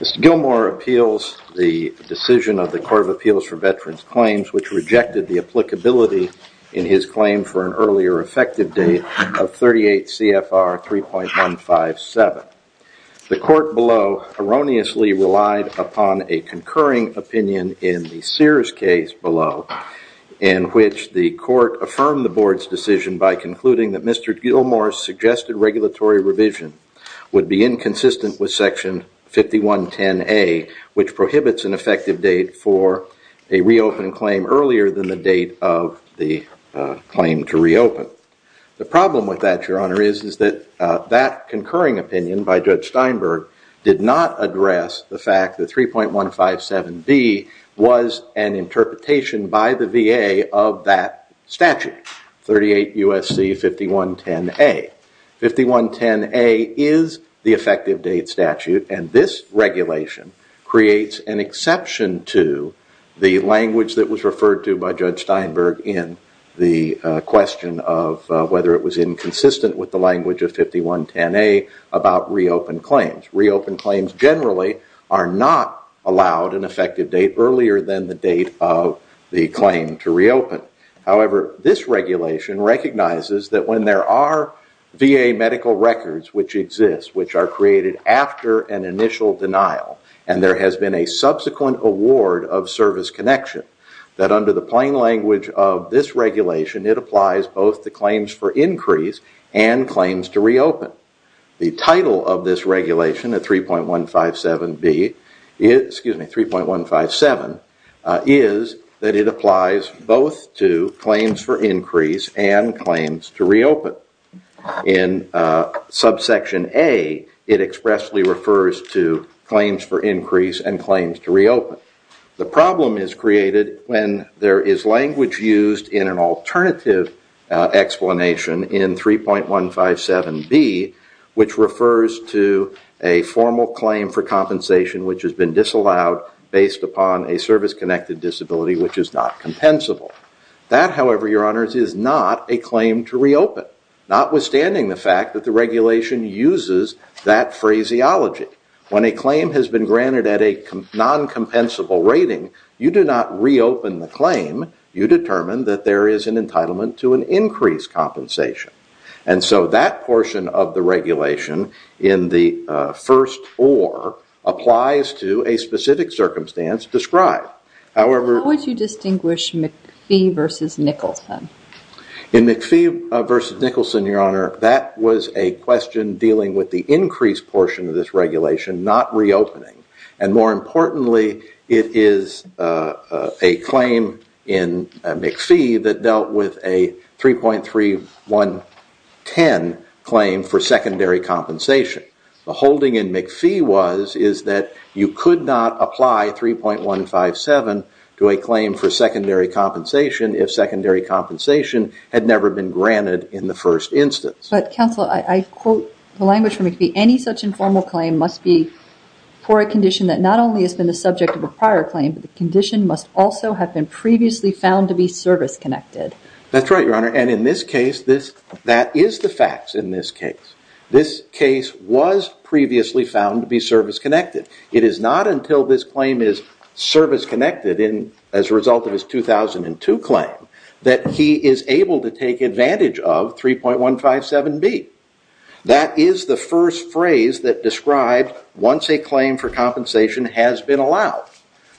Mr. Gilmour appeals the decision of the Court of Appeals for Veterans Claims which rejected the applicability in his claim for an earlier effective date of 38 CFR 3.157. The court below erroneously relied upon a concurring opinion in the Sears case below in which the court affirmed the board's decision by concluding that Mr. Gilmour's suggested regulatory revision would be inconsistent with section 5110A which prohibits an effective date for a reopen claim earlier than the date of the claim to reopen. The problem with that, Your Honor, is that that concurring opinion by Judge Steinberg did not address the fact that 3.157B was an interpretation by the VA of that statute, 38 USC 5110A. 5110A is the effective date statute and this regulation creates an exception to the language that was referred to by Judge Steinberg in the question of whether it was inconsistent with the language of 5110A about reopen claims. Reopen claims generally are not allowed an effective date earlier than the date of the claim to reopen. However, this regulation recognizes that when there are VA medical records which exist, which are created after an initial denial and there has been a subsequent award of service connection, that under the plain language of this regulation, it applies both to claims for increase and claims to reopen. The title of this regulation at 3.157B, excuse me, 3.157 is that it applies both to claims for increase and claims to reopen. In subsection A, it expressly refers to claims for increase and claims to reopen. The problem is created when there is language used in an alternative explanation in 3.157B which refers to a formal claim for compensation which has been disallowed based upon a service-connected disability which is not compensable. That, however, Your Honors, is not a claim to reopen, notwithstanding the fact that the regulation uses that phraseology. When a claim has been granted at a non-compensable rating, you do not reopen the claim. You determine that there is an entitlement to an increased compensation. And so that portion of the regulation in the first OR applies to a specific circumstance described. How would you distinguish McPhee versus Nicholson? In McPhee versus Nicholson, Your Honor, that was a question dealing with the increased portion of this regulation, not reopening. And more importantly, it is a claim in McPhee that dealt with a 3.3110 claim for secondary compensation. The holding in McPhee was that you could not apply 3.157 to a claim for secondary compensation if secondary compensation had never been granted in the first instance. But, Counselor, I quote the language from McPhee. Any such informal claim must be for a condition that not only has been the subject of a prior claim, but the condition must also have been previously found to be service-connected. That's right, Your Honor. And in this case, that is the facts in this case. This case was previously found to be service-connected. It is not until this claim is service-connected as a result of his 2002 claim that he is able to take advantage of 3.157B. That is the first phrase that described once a claim for compensation has been allowed.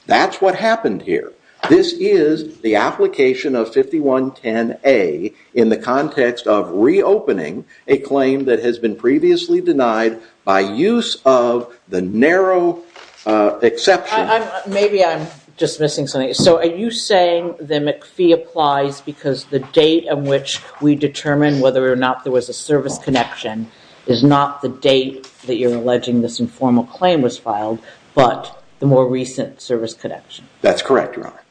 That's what happened here. This is the application of 5110A in the context of reopening a claim that has been previously denied by use of the narrow exception. Maybe I'm just missing something. So are you saying that McPhee applies because the date on which we determine whether or not there was a service connection is not the date that you're alleging this informal claim was filed, but the more recent service connection? That's correct, Your Honor.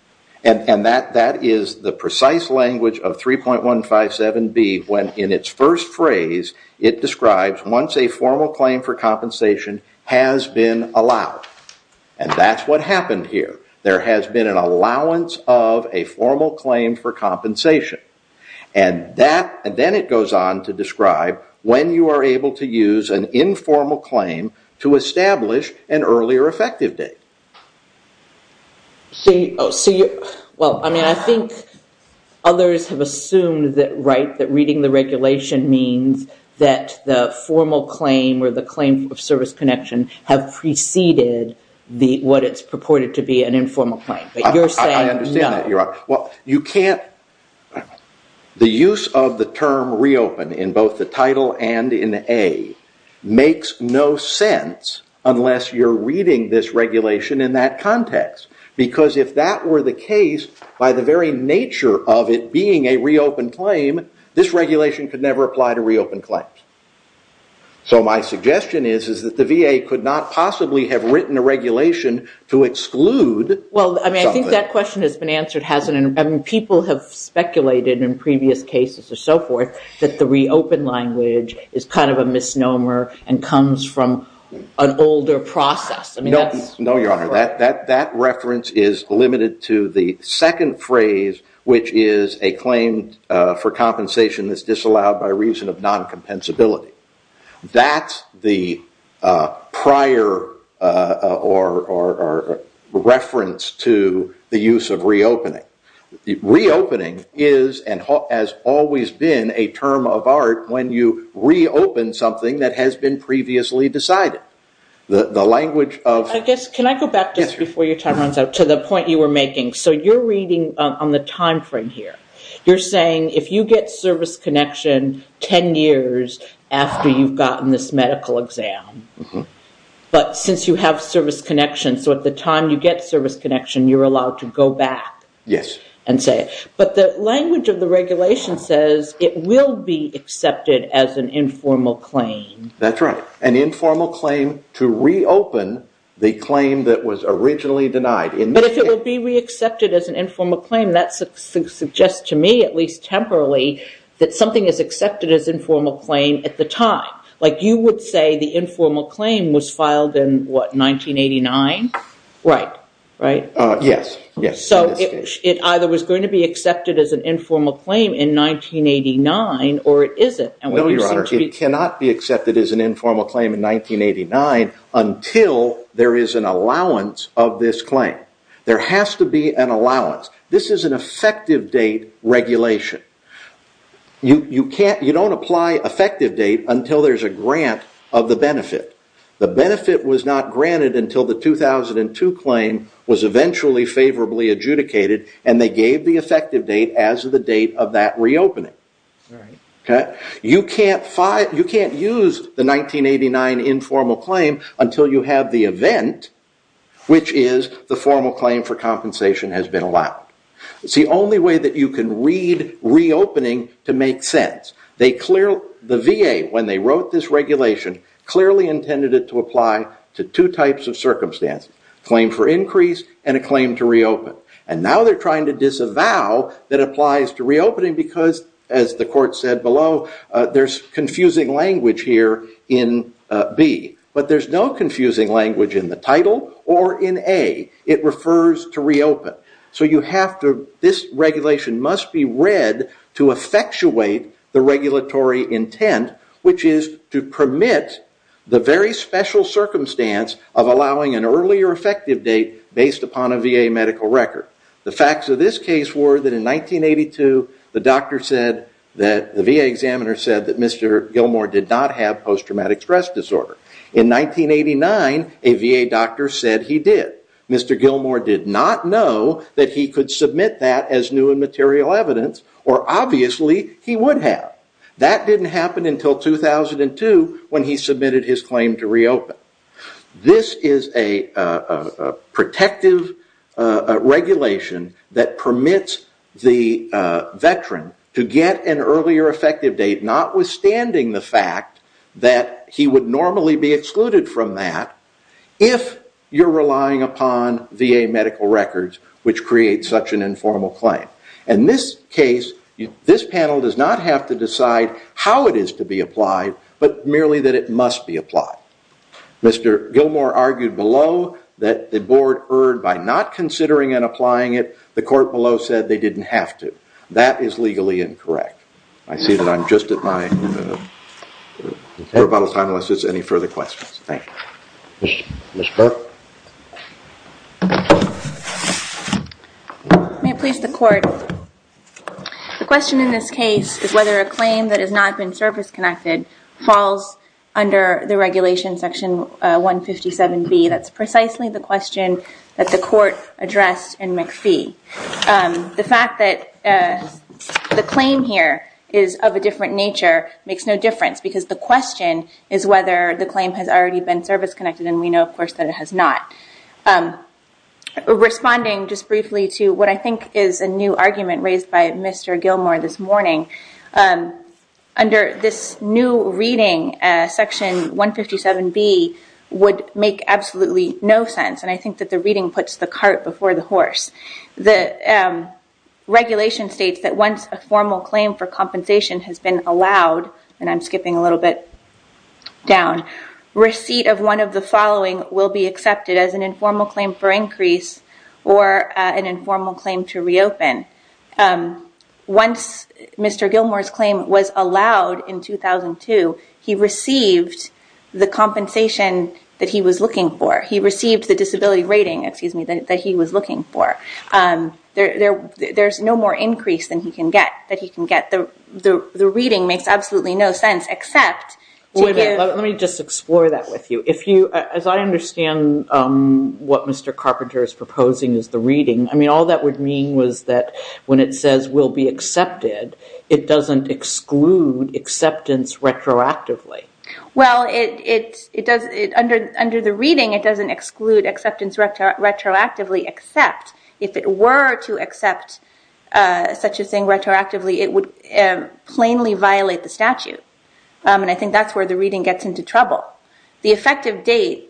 And that is the precise language of 3.157B when in its first phrase it describes once a formal claim for compensation has been allowed. And that's what happened here. There has been an allowance of a formal claim for compensation. And then it goes on to describe when you are able to use an informal claim to establish an earlier effective date. I think others have assumed that reading the regulation means that the formal claim or the claim of service connection have preceded what is purported to be an informal claim. I understand that, Your Honor. The use of the term reopen in both the title and in A makes no sense unless you're reading this regulation in that context. Because if that were the case, by the very nature of it being a reopened claim, this regulation could never apply to reopened claims. So my suggestion is that the VA could not possibly have written a regulation to exclude. Well, I think that question has been answered. People have speculated in previous cases and so forth that the reopened language is kind of a misnomer and comes from an older process. No, Your Honor. That reference is limited to the second phrase, which is a claim for compensation that's disallowed by reason of non-compensability. That's the prior reference to the use of reopening. Reopening is and has always been a term of art when you reopen something that has been previously decided. Can I go back just before your time runs out to the point you were making? So you're reading on the time frame here. You're saying if you get service connection 10 years after you've gotten this medical exam, but since you have service connection, so at the time you get service connection, you're allowed to go back and say it. But the language of the regulation says it will be accepted as an informal claim. That's right. An informal claim to reopen the claim that was originally denied. But if it will be re-accepted as an informal claim, that suggests to me, at least temporarily, that something is accepted as informal claim at the time. Like you would say the informal claim was filed in, what, 1989? Right. Right? Yes. So it either was going to be accepted as an informal claim in 1989 or it isn't. No, Your Honor. It cannot be accepted as an informal claim in 1989 until there is an allowance of this claim. There has to be an allowance. This is an effective date regulation. You don't apply effective date until there's a grant of the benefit. The benefit was not granted until the 2002 claim was eventually favorably adjudicated, and they gave the effective date as the date of that reopening. You can't use the 1989 informal claim until you have the event, which is the formal claim for compensation has been allowed. It's the only way that you can read reopening to make sense. The VA, when they wrote this regulation, clearly intended it to apply to two types of circumstances. Claim for increase and a claim to reopen. And now they're trying to disavow that applies to reopening because, as the court said below, there's confusing language here in B. But there's no confusing language in the title or in A. It refers to reopen. This regulation must be read to effectuate the regulatory intent, which is to permit the very special circumstance of allowing an earlier effective date based upon a VA medical record. The facts of this case were that in 1982, the VA examiner said that Mr. Gilmore did not have post-traumatic stress disorder. In 1989, a VA doctor said he did. Mr. Gilmore did not know that he could submit that as new and material evidence, or obviously he would have. That didn't happen until 2002 when he submitted his claim to reopen. This is a protective regulation that permits the veteran to get an earlier effective date, notwithstanding the fact that he would normally be excluded from that, if you're relying upon VA medical records, which creates such an informal claim. In this case, this panel does not have to decide how it is to be applied, but merely that it must be applied. Mr. Gilmore argued below that the board erred by not considering and applying it. The court below said they didn't have to. That is legally incorrect. I see that I'm just at my air bottle time, unless there's any further questions. Thank you. Ms. Burke? May it please the court, the question in this case is whether a claim that has not been service-connected falls under the regulation section 157B. That's precisely the question that the court addressed in McPhee. The fact that the claim here is of a different nature makes no difference, because the question is whether the claim has already been service-connected, and we know, of course, that it has not. Responding just briefly to what I think is a new argument raised by Mr. Gilmore this morning, under this new reading, section 157B would make absolutely no sense, and I think that the reading puts the cart before the horse. The regulation states that once a formal claim for compensation has been allowed, and I'm skipping a little bit down, receipt of one of the following will be accepted as an informal claim for increase or an informal claim to reopen. Once Mr. Gilmore's claim was allowed in 2002, he received the compensation that he was looking for. There's no more increase that he can get. The reading makes absolutely no sense except to give... Let me just explore that with you. As I understand what Mr. Carpenter is proposing as the reading, all that would mean was that when it says will be accepted, it doesn't exclude acceptance retroactively. Well, under the reading, it doesn't exclude acceptance retroactively, except if it were to accept such a thing retroactively, it would plainly violate the statute, and I think that's where the reading gets into trouble. The effective date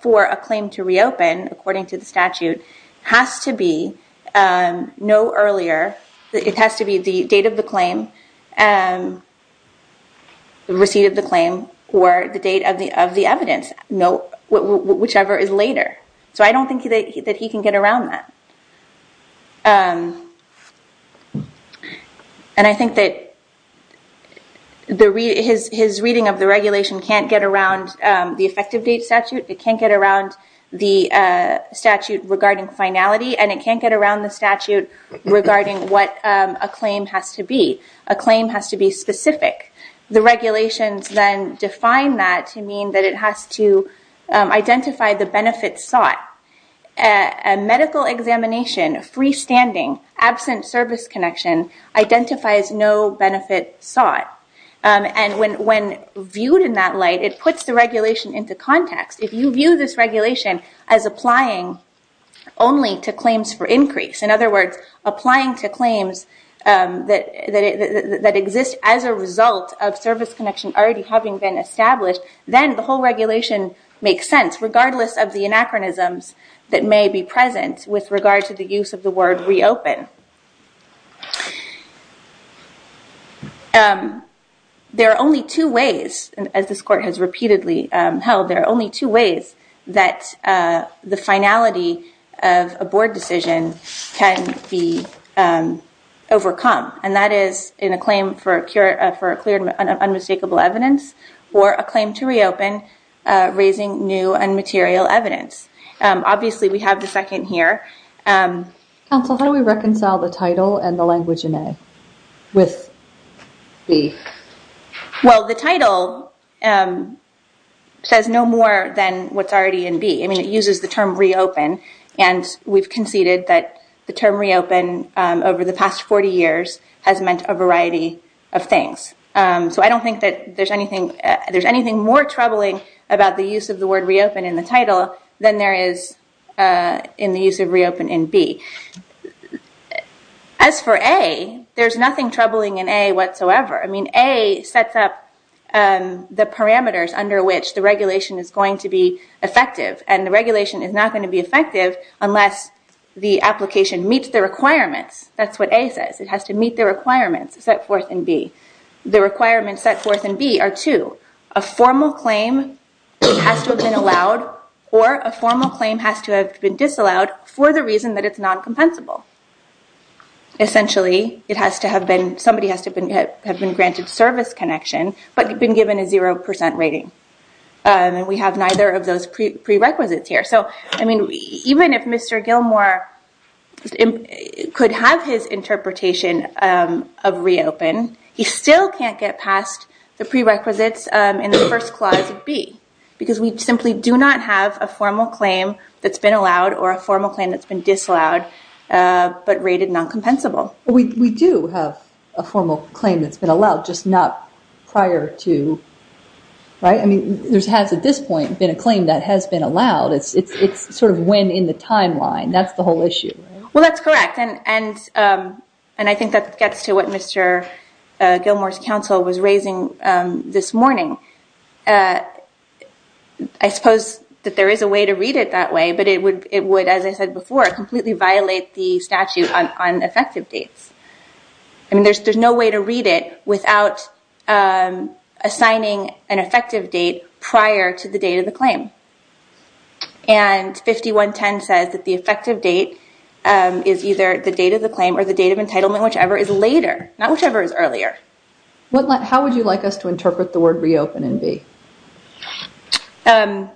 for a claim to reopen, according to the statute, has to be no earlier. The receipt of the claim or the date of the evidence, whichever is later. So I don't think that he can get around that, and I think that his reading of the regulation can't get around the effective date statute, it can't get around the statute regarding finality, and it can't get around the statute regarding what a claim has to be. A claim has to be specific. The regulations then define that to mean that it has to identify the benefits sought. A medical examination, freestanding, absent service connection identifies no benefit sought, and when viewed in that light, it puts the regulation into context. If you view this regulation as applying only to claims for increase, in other words, applying to claims that exist as a result of service connection already having been established, then the whole regulation makes sense, regardless of the anachronisms that may be present with regard to the use of the word reopen. There are only two ways, as this court has repeatedly held, there are only two ways that the finality of a board decision can be overcome, and that is in a claim for a clear and unmistakable evidence, or a claim to reopen raising new and material evidence. Obviously, we have the second here. Counsel, how do we reconcile the title and the language in A with B? Well, the title says no more than what's already in B. I mean, it uses the term reopen, and we've conceded that the term reopen over the past 40 years has meant a variety of things. So I don't think that there's anything more troubling about the use of the word reopen in the title than there is in the use of reopen in B. As for A, there's nothing troubling in A whatsoever. I mean, A sets up the parameters under which the regulation is going to be effective, and the regulation is not going to be effective unless the application meets the requirements. That's what A says. It has to meet the requirements set forth in B. The requirements set forth in B are two. A formal claim has to have been allowed, or a formal claim has to have been disallowed for the reason that it's non-compensable. Essentially, somebody has to have been granted service connection but been given a 0% rating, and we have neither of those prerequisites here. So, I mean, even if Mr. Gilmour could have his interpretation of reopen, he still can't get past the prerequisites in the first clause of B because we simply do not have a formal claim that's been allowed or a formal claim that's been disallowed but rated non-compensable. We do have a formal claim that's been allowed, just not prior to, right? I mean, there has at this point been a claim that has been allowed. It's sort of when in the timeline. That's the whole issue, right? Well, that's correct, and I think that gets to what Mr. Gilmour's counsel was raising this morning. I suppose that there is a way to read it that way, but it would, as I said before, completely violate the statute on effective dates. I mean, there's no way to read it without assigning an effective date prior to the date of the claim, and 5110 says that the effective date is either the date of the claim or the date of entitlement, whichever is later, not whichever is earlier. How would you like us to interpret the word reopen in B? I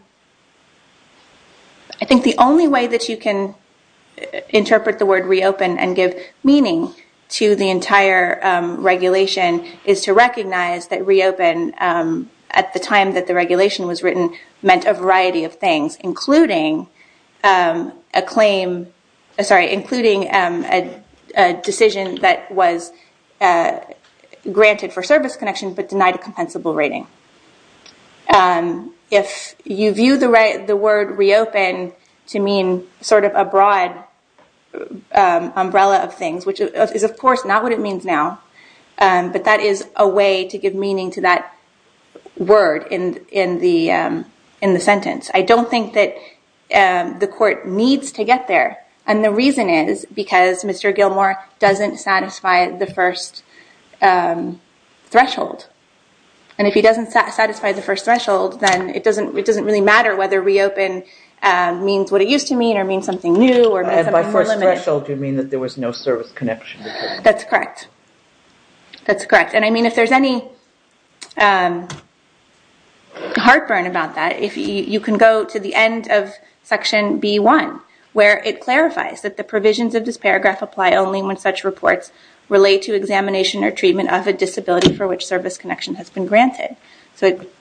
think the only way that you can interpret the word reopen and give meaning to the entire regulation is to recognize that reopen, at the time that the regulation was written, meant a variety of things, including a decision that was granted for service connection but denied a compensable rating. If you view the word reopen to mean sort of a broad umbrella of things, which is, of course, not what it means now, but that is a way to give meaning to that word in the sentence. I don't think that the court needs to get there, and the reason is because Mr. Gilmour doesn't satisfy the first threshold, and if he doesn't satisfy the first threshold, then it doesn't really matter whether reopen means what it used to mean or means something new or means something limited. By first threshold, you mean that there was no service connection? That's correct. That's correct, and I mean, if there's any heartburn about that, you can go to the end of section B1, where it clarifies that the provisions of this paragraph apply only when such reports relate to examination or treatment of a disability for which service connection has been granted. So it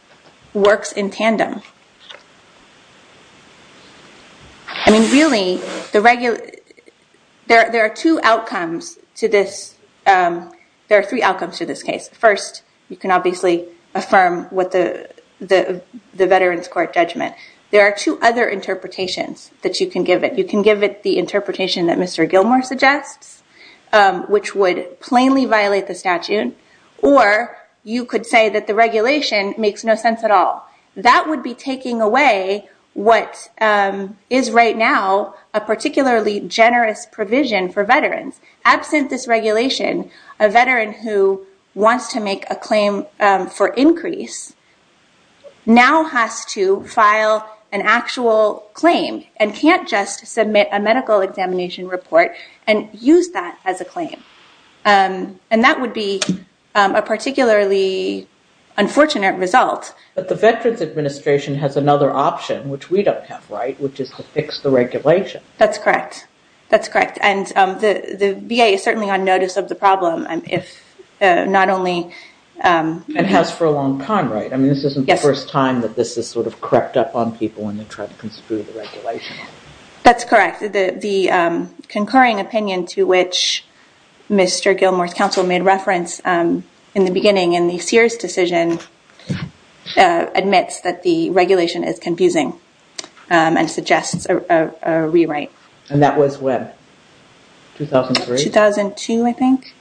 works in tandem. I mean, really, there are two outcomes to this. There are three outcomes to this case. First, you can obviously affirm what the Veterans Court judgment. There are two other interpretations that you can give it. You can give it the interpretation that Mr. Gilmour suggests, which would plainly violate the statute, or you could say that the regulation makes no sense at all. That would be taking away what is right now a particularly generous provision for veterans. Absent this regulation, a veteran who wants to make a claim for increase now has to file an actual claim and can't just submit a medical examination report and use that as a claim. And that would be a particularly unfortunate result. But the Veterans Administration has another option, which we don't have, right, which is to fix the regulation. That's correct. And the VA is certainly on notice of the problem if not only It has for a long time, right? I mean, this isn't the first time that this has sort of crept up on people when they try to construe the regulation. That's correct. The concurring opinion to which Mr. Gilmour's counsel made reference in the beginning in the Sears decision admits that the regulation is confusing and suggests a rewrite. And that was when? 2003? 2002, I think.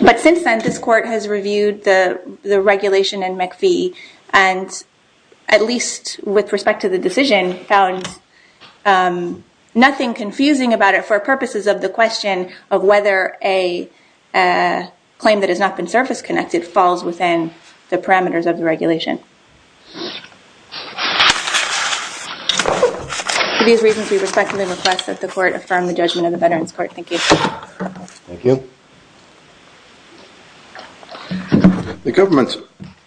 But since then, this court has reviewed the regulation in McPhee and at least with respect to the decision, found nothing confusing about it for purposes of the question of whether a claim that has not been surface-connected falls within the parameters of the regulation. For these reasons, we respectfully request that the court affirm the judgment of the Veterans Court. Thank you. Thank you. The government's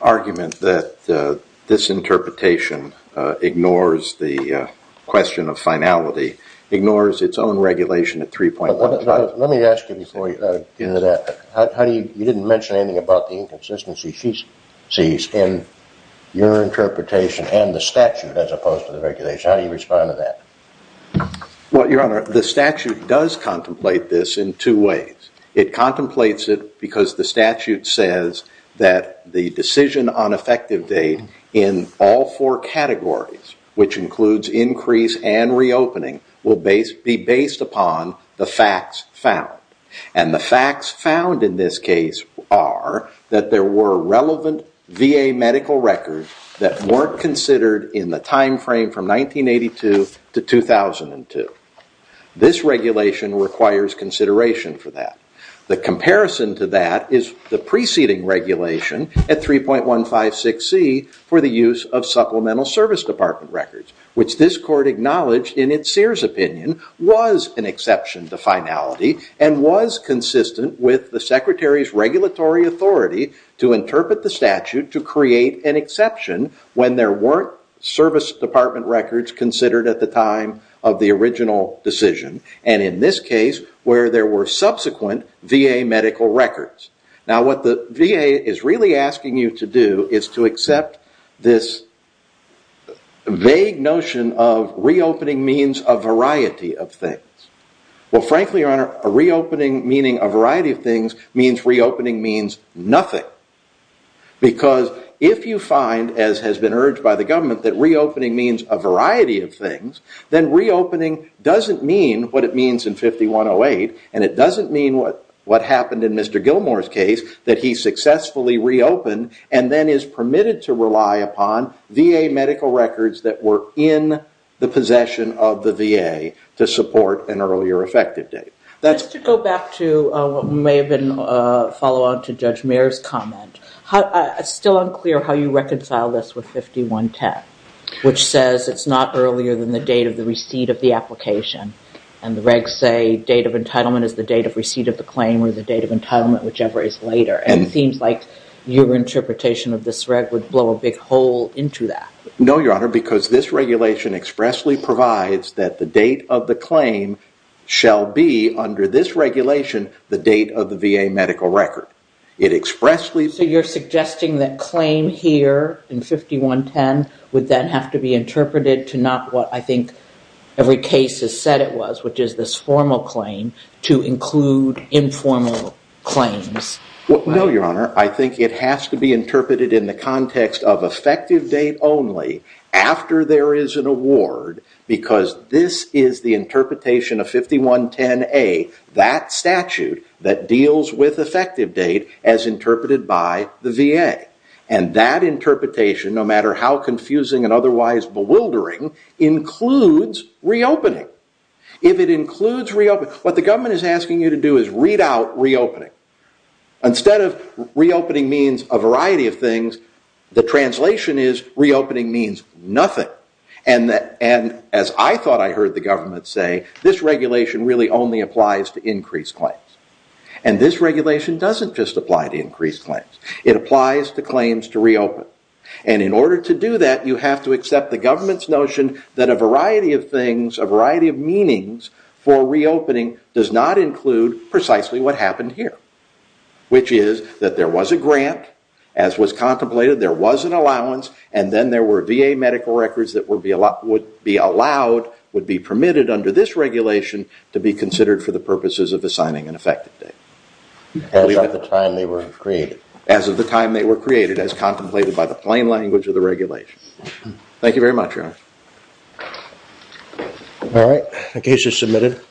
argument that this interpretation ignores the question of finality ignores its own regulation at 3.15. Let me ask you before you get into that. You didn't mention anything about the inconsistency she sees in your interpretation and the statute as opposed to the regulation. How do you respond to that? Well, Your Honor, the statute does contemplate this in two ways. It contemplates it because the statute says that the decision on effective date in all four categories, which includes increase and reopening, will be based upon the facts found. And the facts found in this case are that there were relevant VA medical records that weren't considered in the time frame from 1982 to 2002. This regulation requires consideration for that. The comparison to that is the preceding regulation at 3.156C for the use of supplemental service department records, which this court acknowledged in its Sears opinion was an exception to finality and was consistent with the Secretary's regulatory authority to interpret the statute to create an exception when there weren't service department records considered at the time of the original decision, and in this case, where there were subsequent VA medical records. Now, what the VA is really asking you to do is to accept this vague notion of reopening means a variety of things. Well, frankly, Your Honor, a reopening meaning a variety of things means reopening means nothing. Because if you find, as has been urged by the government, that reopening means a variety of things, then reopening doesn't mean what it means in 5108, and it doesn't mean what happened in Mr. Gilmour's case, that he successfully reopened and then is permitted to rely upon VA medical records that were in the possession of the VA to support an earlier effective date. Just to go back to what may have been a follow-on to Judge Mayer's comment, it's still unclear how you reconcile this with 5110, which says it's not earlier than the date of the receipt of the application, and the regs say date of entitlement is the date of receipt of the claim or the date of entitlement, whichever is later, and it seems like your interpretation of this reg would blow a big hole into that. No, Your Honor, because this regulation expressly provides that the date of the claim shall be under this regulation the date of the VA medical record. It expressly... So you're suggesting that claim here in 5110 would then have to be interpreted to not what I think every case has said it was, which is this formal claim to include informal claims. No, Your Honor. I think it has to be interpreted in the context of effective date only after there is an award because this is the interpretation of 5110A, that statute that deals with effective date as interpreted by the VA, and that interpretation, no matter how confusing and otherwise bewildering, includes reopening. If it includes reopening... What the government is asking you to do is read out reopening. Instead of reopening means a variety of things, the translation is reopening means nothing, and as I thought I heard the government say, this regulation really only applies to increased claims, and this regulation doesn't just apply to increased claims. It applies to claims to reopen, and in order to do that you have to accept the government's notion that a variety of things, a variety of meanings for reopening does not include precisely what happened here, which is that there was a grant, as was contemplated, there was an allowance, and then there were VA medical records that would be allowed, would be permitted under this regulation to be considered for the purposes of assigning an effective date. As of the time they were created. As of the time they were created, as contemplated by the plain language of the regulation. Thank you very much. All right, the case is submitted.